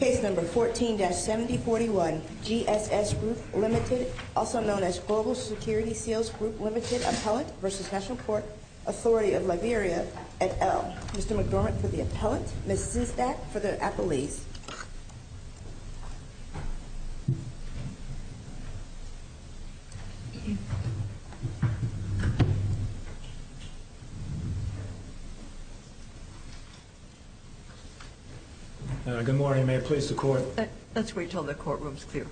Case number 14-7041, GSS Group Ltd. Also known as Global Security Seals Group Ltd. Appellant v. National Court Authority of Liberia et al. Mr. McDormand for the Appellant, Ms. Szysdat for the Appellees. Good morning. May I please the Court? Let's wait until the courtroom is clear.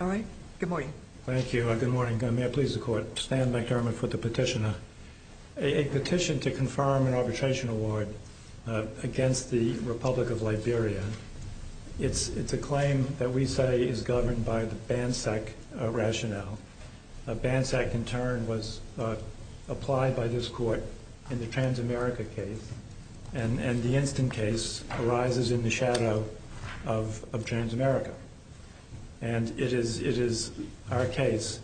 All right. Good morning. Thank you. Good morning. May I please the Court? Stan McDormand for the Petitioner. A petition to confirm an arbitration award against the Republic of Liberia. It's a claim that we say is governed by the BANSEC rationale. BANSEC, in turn, was applied by this Court in the Transamerica case. And the instant case arises in the shadow of Transamerica. And it is our case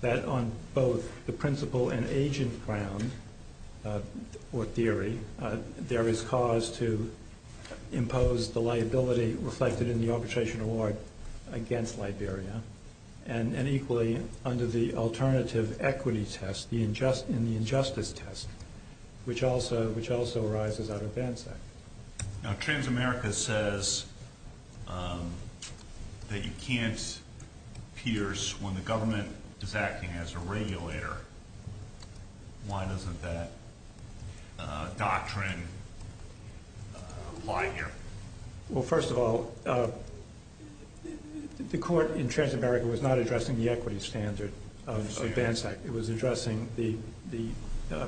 that on both the principal and agent ground, or theory, there is cause to impose the liability reflected in the arbitration award against Liberia. And equally, under the alternative equity test, in the injustice test, which also arises out of BANSEC. Now, Transamerica says that you can't pierce when the government is acting as a regulator. Why doesn't that doctrine apply here? Well, first of all, the Court in Transamerica was not addressing the equity standard of BANSEC. It was addressing the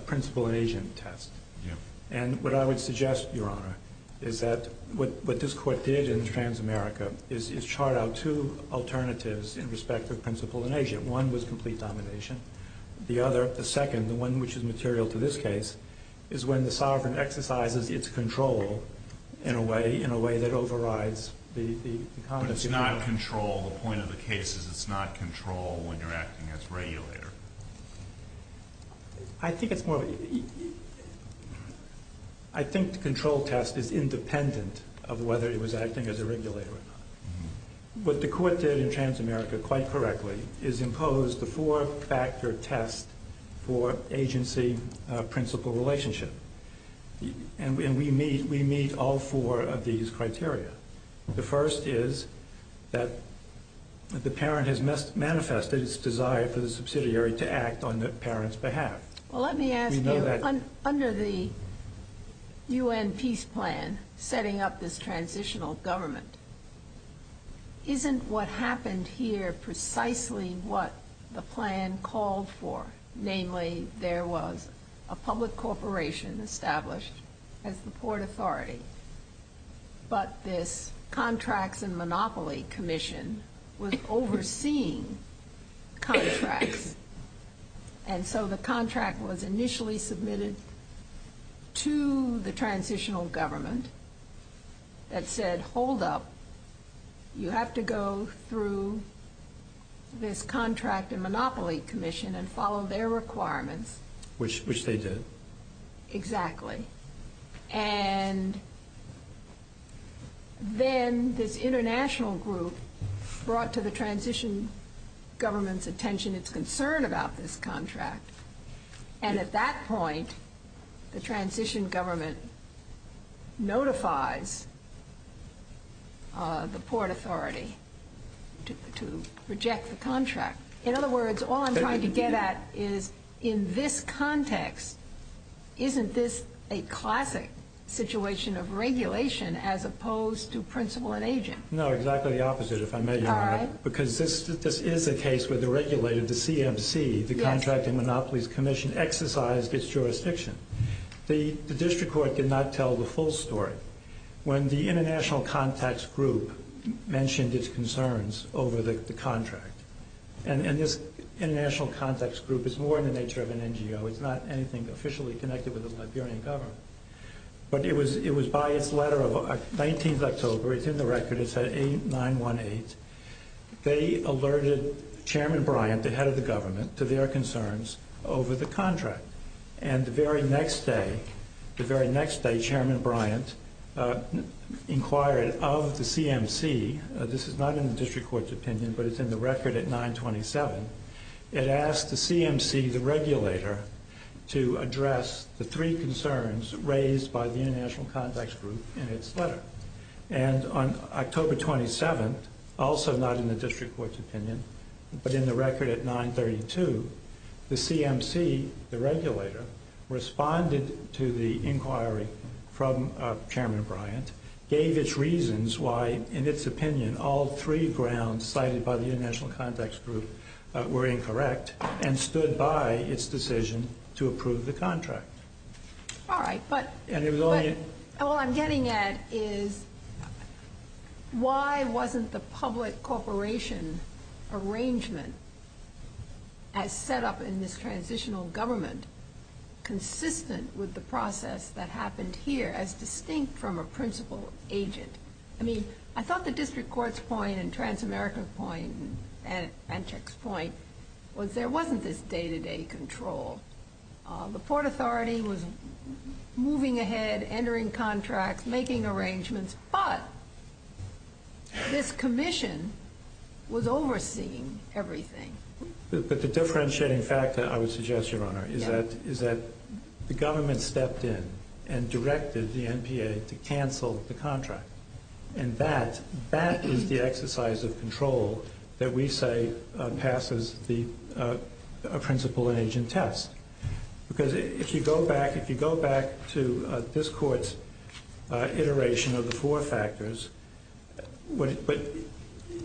principal and agent test. And what I would suggest, Your Honor, is that what this Court did in Transamerica is chart out two alternatives in respect of principal and agent. One was complete domination. The other, the second, the one which is material to this case, is when the sovereign exercises its control in a way that overrides the conduct of the government. But it's not control. The point of the case is it's not control when you're acting as a regulator. I think it's more of a... I think the control test is independent of whether it was acting as a regulator or not. What the Court did in Transamerica, quite correctly, is impose the four-factor test for agency-principal relationship. And we meet all four of these criteria. The first is that the parent has manifested its desire for the subsidiary to act on the parent's behalf. Well, let me ask you, under the U.N. peace plan setting up this transitional government, isn't what happened here precisely what the plan called for? Namely, there was a public corporation established as the port authority. But this contracts and monopoly commission was overseeing contracts. And so the contract was initially submitted to the transitional government that said, hold up, you have to go through this contract and monopoly commission and follow their requirements. Which they did. Exactly. And then this international group brought to the transition government's attention its concern about this contract. And at that point, the transition government notifies the port authority to reject the contract. In other words, all I'm trying to get at is, in this context, isn't this a classic situation of regulation as opposed to principal and agent? No, exactly the opposite, if I may, Your Honor. All right. Because this is a case where the regulator, the CMC, the Contract and Monopolies Commission, exercised its jurisdiction. The district court did not tell the full story. When the international contacts group mentioned its concerns over the contract, and this international contacts group is more in the nature of an NGO. It's not anything officially connected with the Liberian government. But it was by its letter of 19th October. It's in the record. It's at 918. They alerted Chairman Bryant, the head of the government, to their concerns over the contract. And the very next day, Chairman Bryant inquired of the CMC. This is not in the district court's opinion, but it's in the record at 927. It asked the CMC, the regulator, to address the three concerns raised by the international contacts group in its letter. And on October 27th, also not in the district court's opinion, but in the record at 932, the CMC, the regulator, responded to the inquiry from Chairman Bryant, gave its reasons why, in its opinion, all three grounds cited by the international contacts group were incorrect, and stood by its decision to approve the contract. All right, but what I'm getting at is why wasn't the public corporation arrangement as set up in this transitional government consistent with the process that happened here as distinct from a principal agent? I mean, I thought the district court's point and Transamerica's point and Panchak's point was there wasn't this day-to-day control. The Port Authority was moving ahead, entering contracts, making arrangements, but this commission was overseeing everything. But the differentiating fact, I would suggest, Your Honor, is that the government stepped in and directed the NPA to cancel the contract. And that is the exercise of control that we say passes the principal and agent test. Because if you go back to this court's iteration of the four factors, what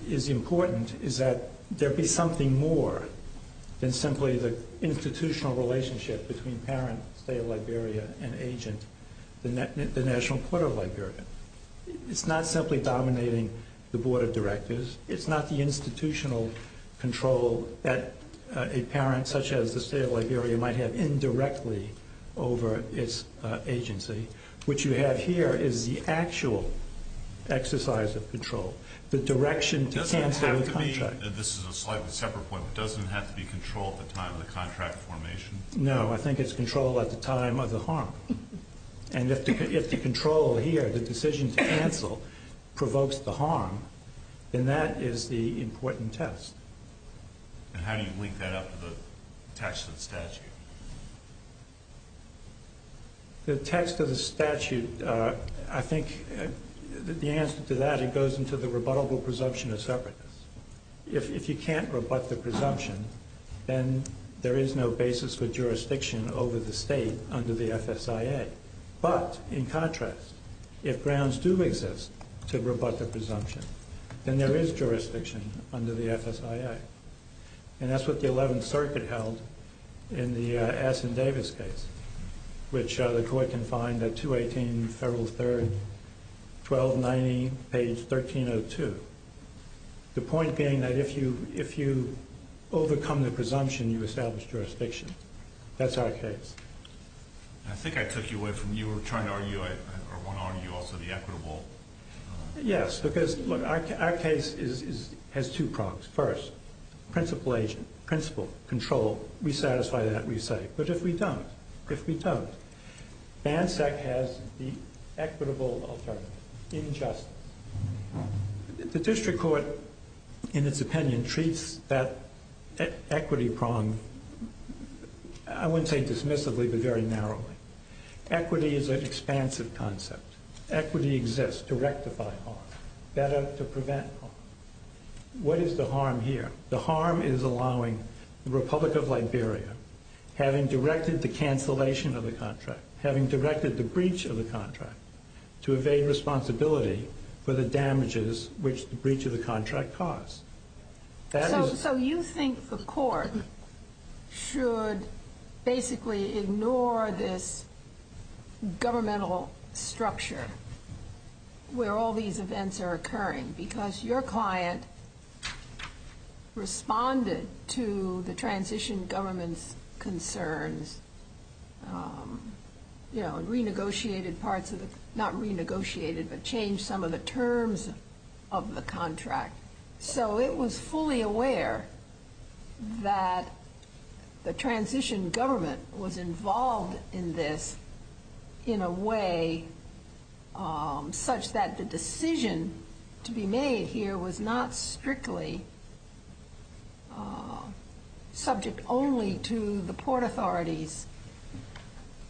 is important is that there be something more than simply the institutional relationship between parent, state of Liberia, and agent, the National Court of Liberia. It's not simply dominating the board of directors. It's not the institutional control that a parent, such as the state of Liberia, might have indirectly over its agency. What you have here is the actual exercise of control, the direction to cancel the contract. This is a slightly separate point, but doesn't it have to be controlled at the time of the contract formation? No, I think it's controlled at the time of the harm. And if the control here, the decision to cancel, provokes the harm, then that is the important test. And how do you link that up to the text of the statute? The text of the statute, I think the answer to that, it goes into the rebuttable presumption of separateness. If you can't rebut the presumption, then there is no basis for jurisdiction over the state under the FSIA. But, in contrast, if grounds do exist to rebut the presumption, then there is jurisdiction under the FSIA. And that's what the 11th Circuit held in the Assin-Davis case, which the court can find at 218 Federal 3, 1290, page 1302. The point being that if you overcome the presumption, you establish jurisdiction. That's our case. I think I took you away from, you were trying to argue, or want to argue also, the equitable... Yes, because our case has two prongs. First, principle agent, principle, control, we satisfy that, we say. But if we don't, if we don't, BANSEC has the equitable alternative, injustice. The district court, in its opinion, treats that equity prong, I wouldn't say dismissively, but very narrowly. Equity is an expansive concept. Equity exists to rectify harm, better to prevent harm. What is the harm here? The harm is allowing the Republic of Liberia, having directed the cancellation of the contract, having directed the breach of the contract, to evade responsibility for the damages which the breach of the contract caused. So you think the court should basically ignore this governmental structure where all these events are occurring, because your client responded to the transition government's concerns and renegotiated parts of the, not renegotiated, but changed some of the terms of the contract. So it was fully aware that the transition government was involved in this in a way such that the decision to be made here was not strictly subject only to the port authority's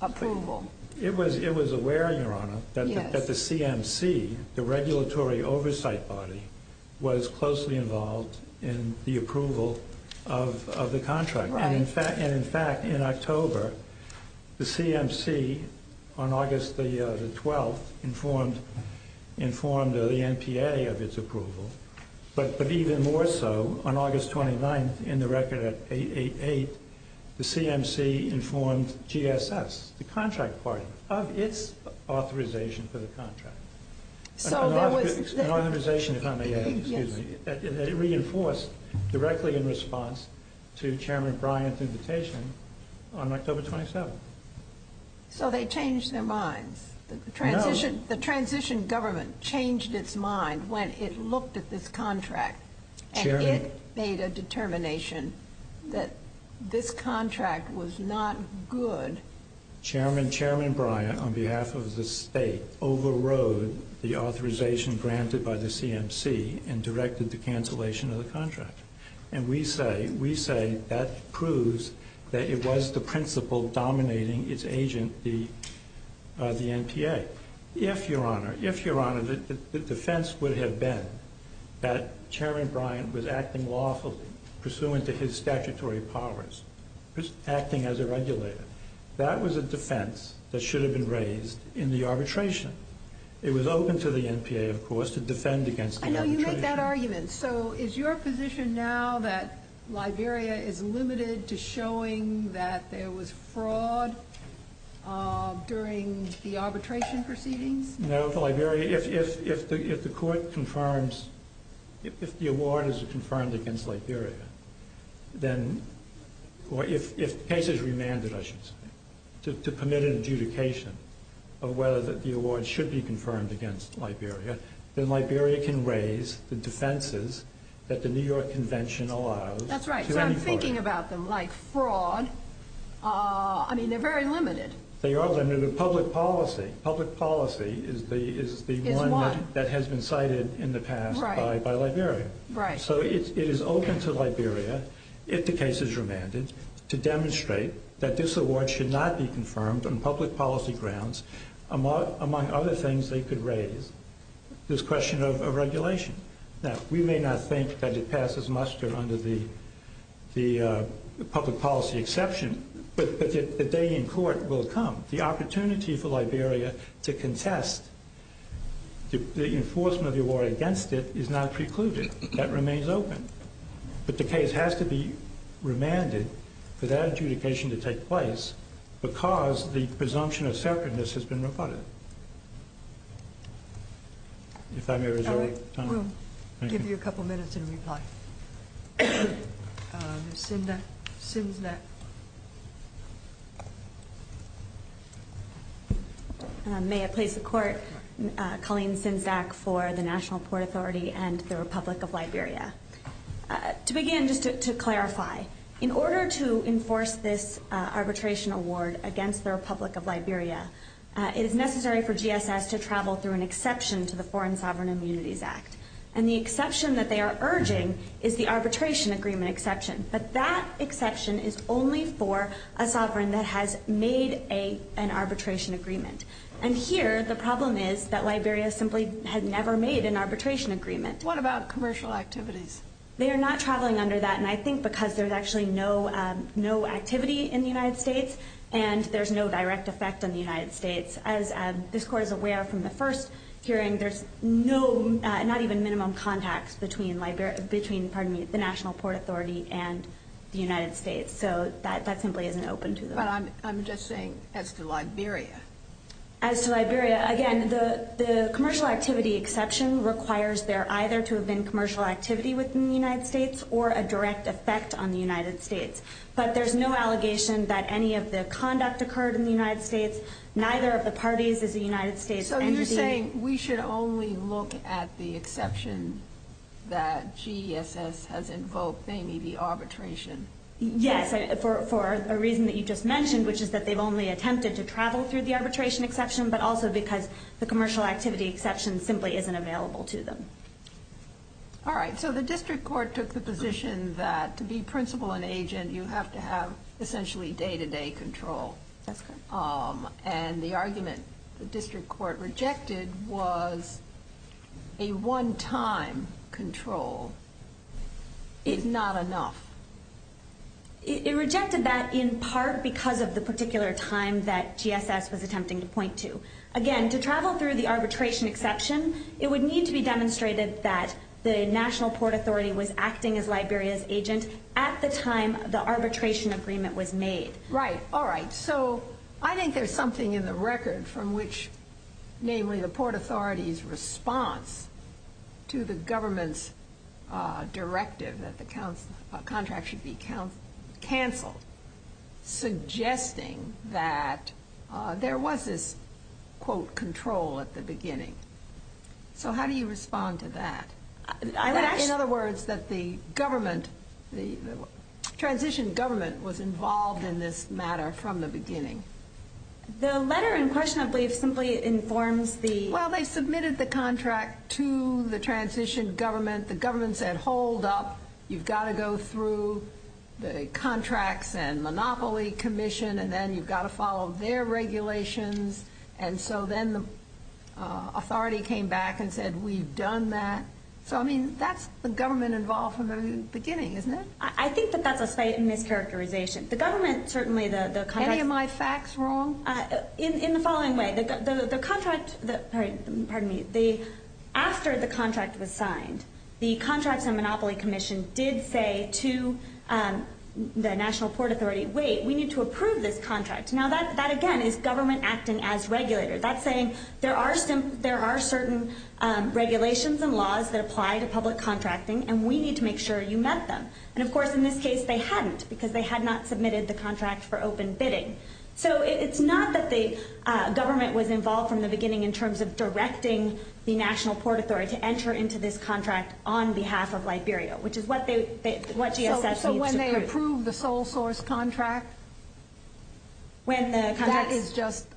approval. It was aware, Your Honor, that the CMC, the regulatory oversight body, was closely involved in the approval of the contract. And in fact, in October, the CMC, on August the 12th, informed the NPA of its approval. But even more so, on August 29th, in the record at 888, the CMC informed GSS, the contract party, of its authorization for the contract. An authorization, if I may add, excuse me, that it reinforced directly in response to Chairman Bryant's invitation on October 27th. So they changed their minds. No. The transition government changed its mind when it looked at this contract. Chairman. And it made a determination that this contract was not good. Chairman Bryant, on behalf of the state, overrode the authorization granted by the CMC and directed the cancellation of the contract. And we say that proves that it was the principle dominating its agent, the NPA. If, Your Honor, if, Your Honor, the defense would have been that Chairman Bryant was acting lawfully pursuant to his statutory powers, acting as a regulator, that was a defense that should have been raised in the arbitration. It was open to the NPA, of course, to defend against the arbitration. I know you make that argument. So is your position now that Liberia is limited to showing that there was fraud during the arbitration proceedings? No. For Liberia, if the court confirms, if the award is confirmed against Liberia, then, or if the case is remanded, I should say, to permit an adjudication of whether the award should be confirmed against Liberia, then Liberia can raise the defenses that the New York Convention allows to any court. That's right. So I'm thinking about them like fraud. I mean, they're very limited. They are limited. Public policy, public policy is the one that has been cited in the past by Liberia. Right. So it is open to Liberia, if the case is remanded, to demonstrate that this award should not be confirmed on public policy grounds, among other things they could raise, this question of regulation. Now, we may not think that it passes muster under the public policy exception, but the day in court will come. The opportunity for Liberia to contest the enforcement of the award against it is not precluded. That remains open. But the case has to be remanded for that adjudication to take place because the presumption of separateness has been rebutted. If I may reserve time. We'll give you a couple minutes in reply. Sinzak. May I please the court? Colleen Sinzak for the National Port Authority and the Republic of Liberia. To begin, just to clarify, in order to enforce this arbitration award against the Republic of Liberia, it is necessary for GSS to travel through an exception to the Foreign Sovereign Immunities Act. And the exception that they are urging is the arbitration agreement exception. But that exception is only for a sovereign that has made an arbitration agreement. And here, the problem is that Liberia simply had never made an arbitration agreement. What about commercial activities? They are not traveling under that. And I think because there's actually no activity in the United States and there's no direct effect on the United States. As this court is aware from the first hearing, there's not even minimum contacts between the National Port Authority and the United States. So that simply isn't open to them. But I'm just saying as to Liberia. As to Liberia, again, the commercial activity exception requires there either to have been commercial activity within the United States or a direct effect on the United States. But there's no allegation that any of the conduct occurred in the United States. Neither of the parties is a United States entity. So you're saying we should only look at the exception that GSS has invoked, namely the arbitration? Yes, for a reason that you just mentioned, which is that they've only attempted to travel through the arbitration exception, but also because the commercial activity exception simply isn't available to them. All right. So the district court took the position that to be principal and agent, you have to have essentially day-to-day control. That's correct. And the argument the district court rejected was a one-time control is not enough. It rejected that in part because of the particular time that GSS was attempting to point to. Again, to travel through the arbitration exception, it would need to be demonstrated that the National Port Authority was acting as Liberia's agent at the time the arbitration agreement was made. Right. All right. So I think there's something in the record from which namely the Port Authority's response to the government's directive that the contract should be canceled, suggesting that there was this, quote, control at the beginning. So how do you respond to that? In other words, that the government, the transition government was involved in this matter from the beginning. The letter in question, I believe, simply informs the – Well, they submitted the contract to the transition government. The government said, hold up. You've got to go through the contracts and monopoly commission, and then you've got to follow their regulations. And so then the authority came back and said, we've done that. So, I mean, that's the government involved from the beginning, isn't it? I think that that's a mischaracterization. The government certainly – Any of my facts wrong? In the following way. The contract – pardon me. After the contract was signed, the contracts and monopoly commission did say to the National Port Authority, wait, we need to approve this contract. Now, that, again, is government acting as regulator. That's saying there are certain regulations and laws that apply to public contracting, and we need to make sure you met them. And, of course, in this case, they hadn't because they had not submitted the contract for open bidding. So it's not that the government was involved from the beginning in terms of directing the National Port Authority to enter into this contract on behalf of Liberia, which is what GSS needs to approve. So when they approve the sole source contract, that is just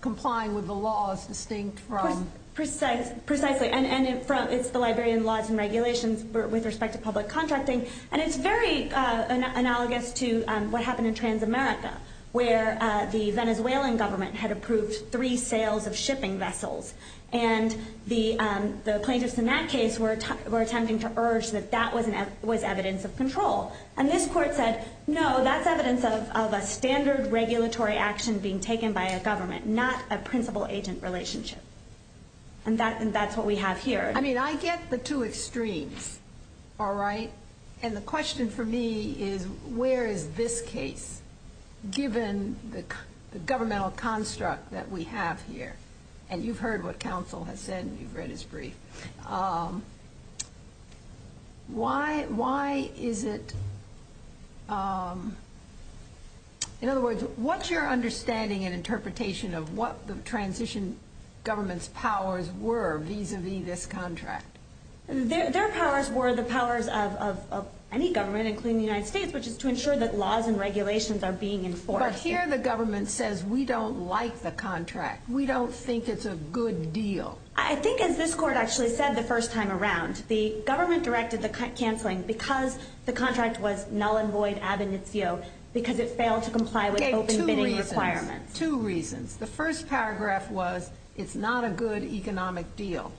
complying with the laws distinct from – Precisely. And it's the Liberian laws and regulations with respect to public contracting. And it's very analogous to what happened in Transamerica, where the Venezuelan government had approved three sales of shipping vessels. And the plaintiffs in that case were attempting to urge that that was evidence of control. And this court said, no, that's evidence of a standard regulatory action being taken by a government, not a principal-agent relationship. And that's what we have here. I mean, I get the two extremes, all right? And the question for me is, where is this case, given the governmental construct that we have here? And you've heard what counsel has said and you've read his brief. Why is it – in other words, what's your understanding and interpretation of what the transition government's powers were vis-a-vis this contract? Their powers were the powers of any government, including the United States, which is to ensure that laws and regulations are being enforced. But here the government says, we don't like the contract. We don't think it's a good deal. I think, as this court actually said the first time around, the government directed the cancelling because the contract was null and void ab initio, because it failed to comply with open bidding requirements. Two reasons. The first paragraph was, it's not a good economic deal.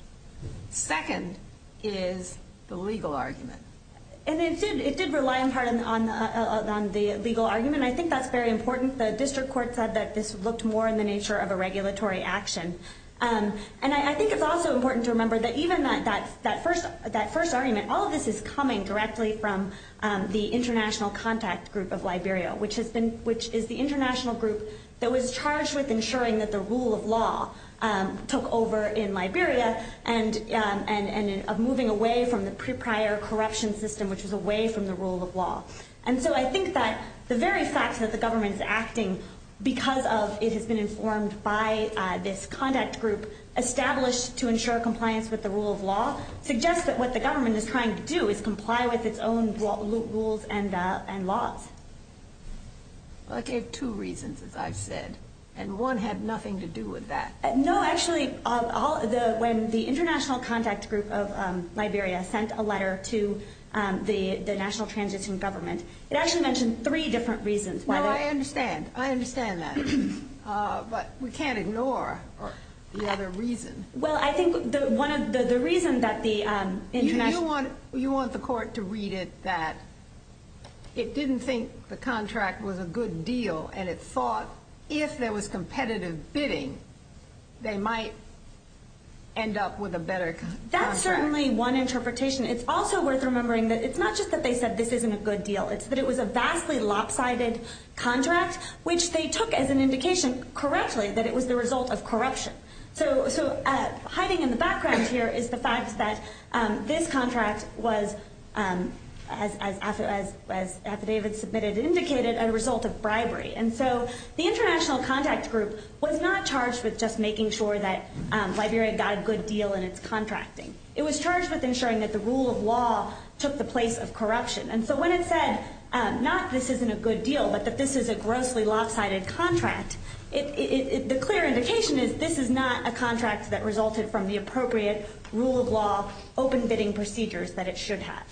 Second is the legal argument. And it did rely in part on the legal argument. And I think that's very important. The district court said that this looked more in the nature of a regulatory action. And I think it's also important to remember that even that first argument, all of this is coming directly from the international contact group of Liberia, which is the international group that was charged with ensuring that the rule of law took over in Liberia and of moving away from the prior corruption system, which was away from the rule of law. And so I think that the very fact that the government is acting because of it has been informed by this contact group established to ensure compliance with the rule of law suggests that what the government is trying to do is comply with its own rules and laws. I gave two reasons, as I've said. And one had nothing to do with that. No, actually, when the international contact group of Liberia sent a letter to the national transition government, it actually mentioned three different reasons. No, I understand. I understand that. But we can't ignore the other reason. You want the court to read it that it didn't think the contract was a good deal and it thought if there was competitive bidding, they might end up with a better contract. That's certainly one interpretation. It's also worth remembering that it's not just that they said this isn't a good deal. It's that it was a vastly lopsided contract, which they took as an indication correctly that it was the result of corruption. So hiding in the background here is the fact that this contract was, as affidavit submitted indicated, a result of bribery. And so the international contact group was not charged with just making sure that Liberia got a good deal in its contracting. It was charged with ensuring that the rule of law took the place of corruption. And so when it said not this isn't a good deal, but that this is a grossly lopsided contract, the clear indication is this is not a contract that resulted from the appropriate rule of law open bidding procedures that it should have.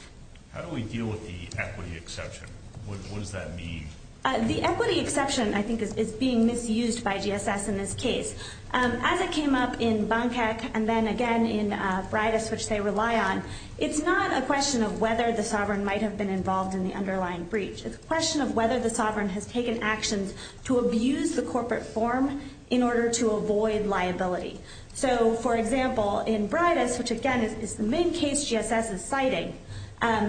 How do we deal with the equity exception? What does that mean? The equity exception, I think, is being misused by GSS in this case. As it came up in Bankek and then again in Braidis, which they rely on, it's not a question of whether the sovereign might have been involved in the underlying breach. It's a question of whether the sovereign has taken actions to abuse the corporate form in order to avoid liability. So, for example, in Braidis, which again is the main case GSS is citing, there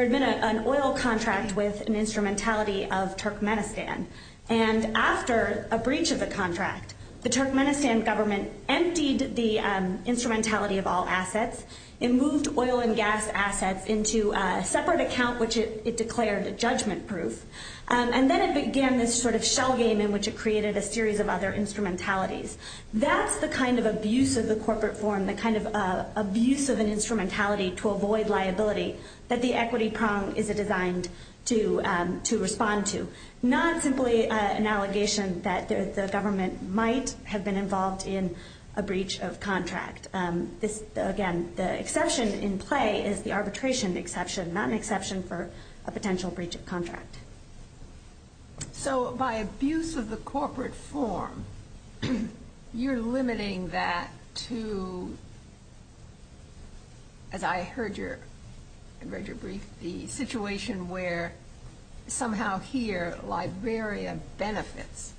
had been an oil contract with an instrumentality of Turkmenistan. And after a breach of the contract, the Turkmenistan government emptied the instrumentality of all assets. It moved oil and gas assets into a separate account, which it declared judgment proof. And then it began this sort of shell game in which it created a series of other instrumentalities. That's the kind of abuse of the corporate form, the kind of abuse of an instrumentality to avoid liability that the equity prong is designed to respond to. Not simply an allegation that the government might have been involved in a breach of contract. Again, the exception in play is the arbitration exception, not an exception for a potential breach of contract. So by abuse of the corporate form, you're limiting that to, as I read your brief, the situation where somehow here Liberia benefits.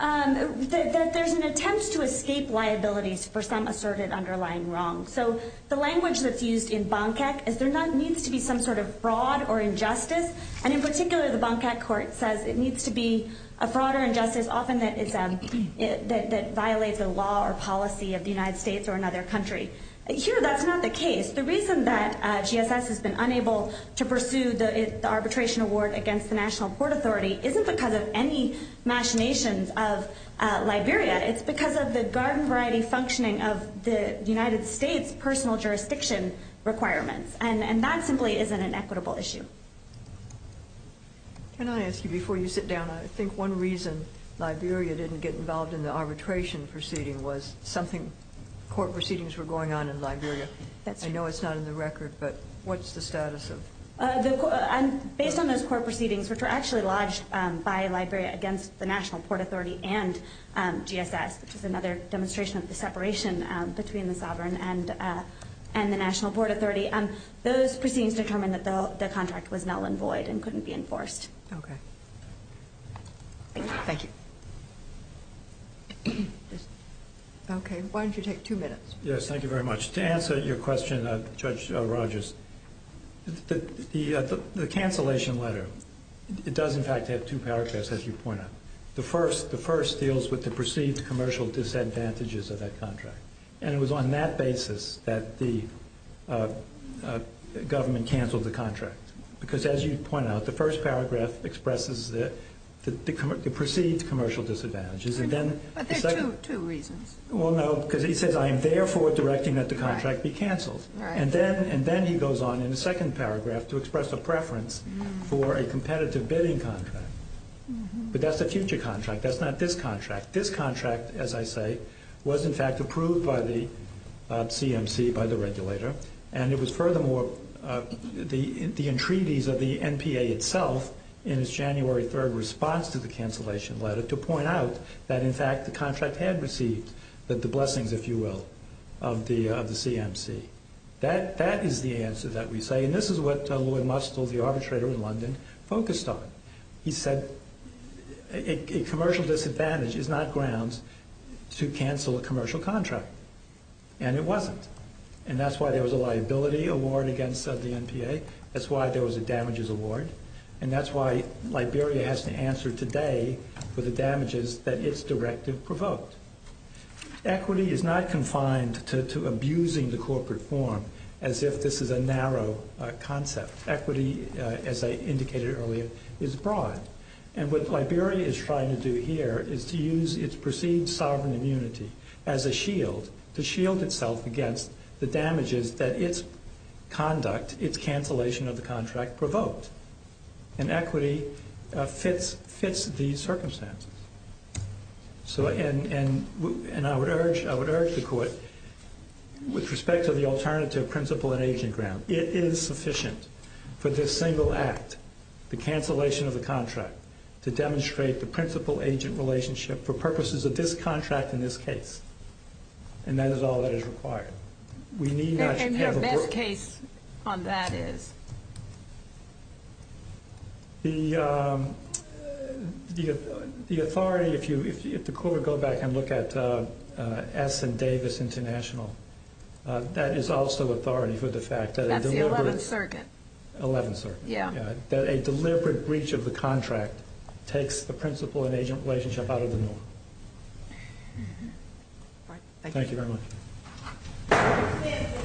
There's an attempt to escape liabilities for some asserted underlying wrong. So the language that's used in Bankak is there needs to be some sort of fraud or injustice. And in particular, the Bankak court says it needs to be a fraud or injustice, often that violates the law or policy of the United States or another country. Here, that's not the case. The reason that GSS has been unable to pursue the arbitration award against the National Port Authority isn't because of any machinations of Liberia. It's because of the garden variety functioning of the United States personal jurisdiction requirements. And that simply isn't an equitable issue. Can I ask you, before you sit down, I think one reason Liberia didn't get involved in the arbitration proceeding was something, court proceedings were going on in Liberia. I know it's not in the record, but what's the status of? Based on those court proceedings, which were actually lodged by Liberia against the National Port Authority and GSS, which is another demonstration of the separation between the sovereign and the National Port Authority, those proceedings determined that the contract was null and void and couldn't be enforced. Okay. Thank you. Okay. Why don't you take two minutes? Yes, thank you very much. To answer your question, Judge Rogers, the cancellation letter, it does in fact have two paragraphs, as you point out. The first deals with the perceived commercial disadvantages of that contract. And it was on that basis that the government canceled the contract. Because, as you point out, the first paragraph expresses the perceived commercial disadvantages. But there are two reasons. Well, no, because he says, I am therefore directing that the contract be canceled. And then he goes on in the second paragraph to express a preference for a competitive bidding contract. But that's a future contract. That's not this contract. This contract, as I say, was in fact approved by the CMC, by the regulator, and it was furthermore the entreaties of the NPA itself in its January 3 response to the cancellation letter to point out that in fact the contract had received the blessings, if you will, of the CMC. That is the answer that we say. And this is what Lloyd Mustle, the arbitrator in London, focused on. He said a commercial disadvantage is not grounds to cancel a commercial contract. And it wasn't. And that's why there was a liability award against the NPA. That's why there was a damages award. And that's why Liberia has to answer today for the damages that its directive provoked. Equity is not confined to abusing the corporate form as if this is a narrow concept. Equity, as I indicated earlier, is broad. And what Liberia is trying to do here is to use its perceived sovereign immunity as a shield, to shield itself against the damages that its conduct, its cancellation of the contract provoked. And equity fits these circumstances. And I would urge the Court, with respect to the alternative principal and agent ground, it is sufficient for this single act, the cancellation of the contract, to demonstrate the principal-agent relationship for purposes of this contract in this case. And that is all that is required. And your best case on that is? The authority, if the Court would go back and look at S and Davis International, that is also authority for the fact that a deliberate breach of the contract takes the principal and agent relationship out of the norm. Thank you very much.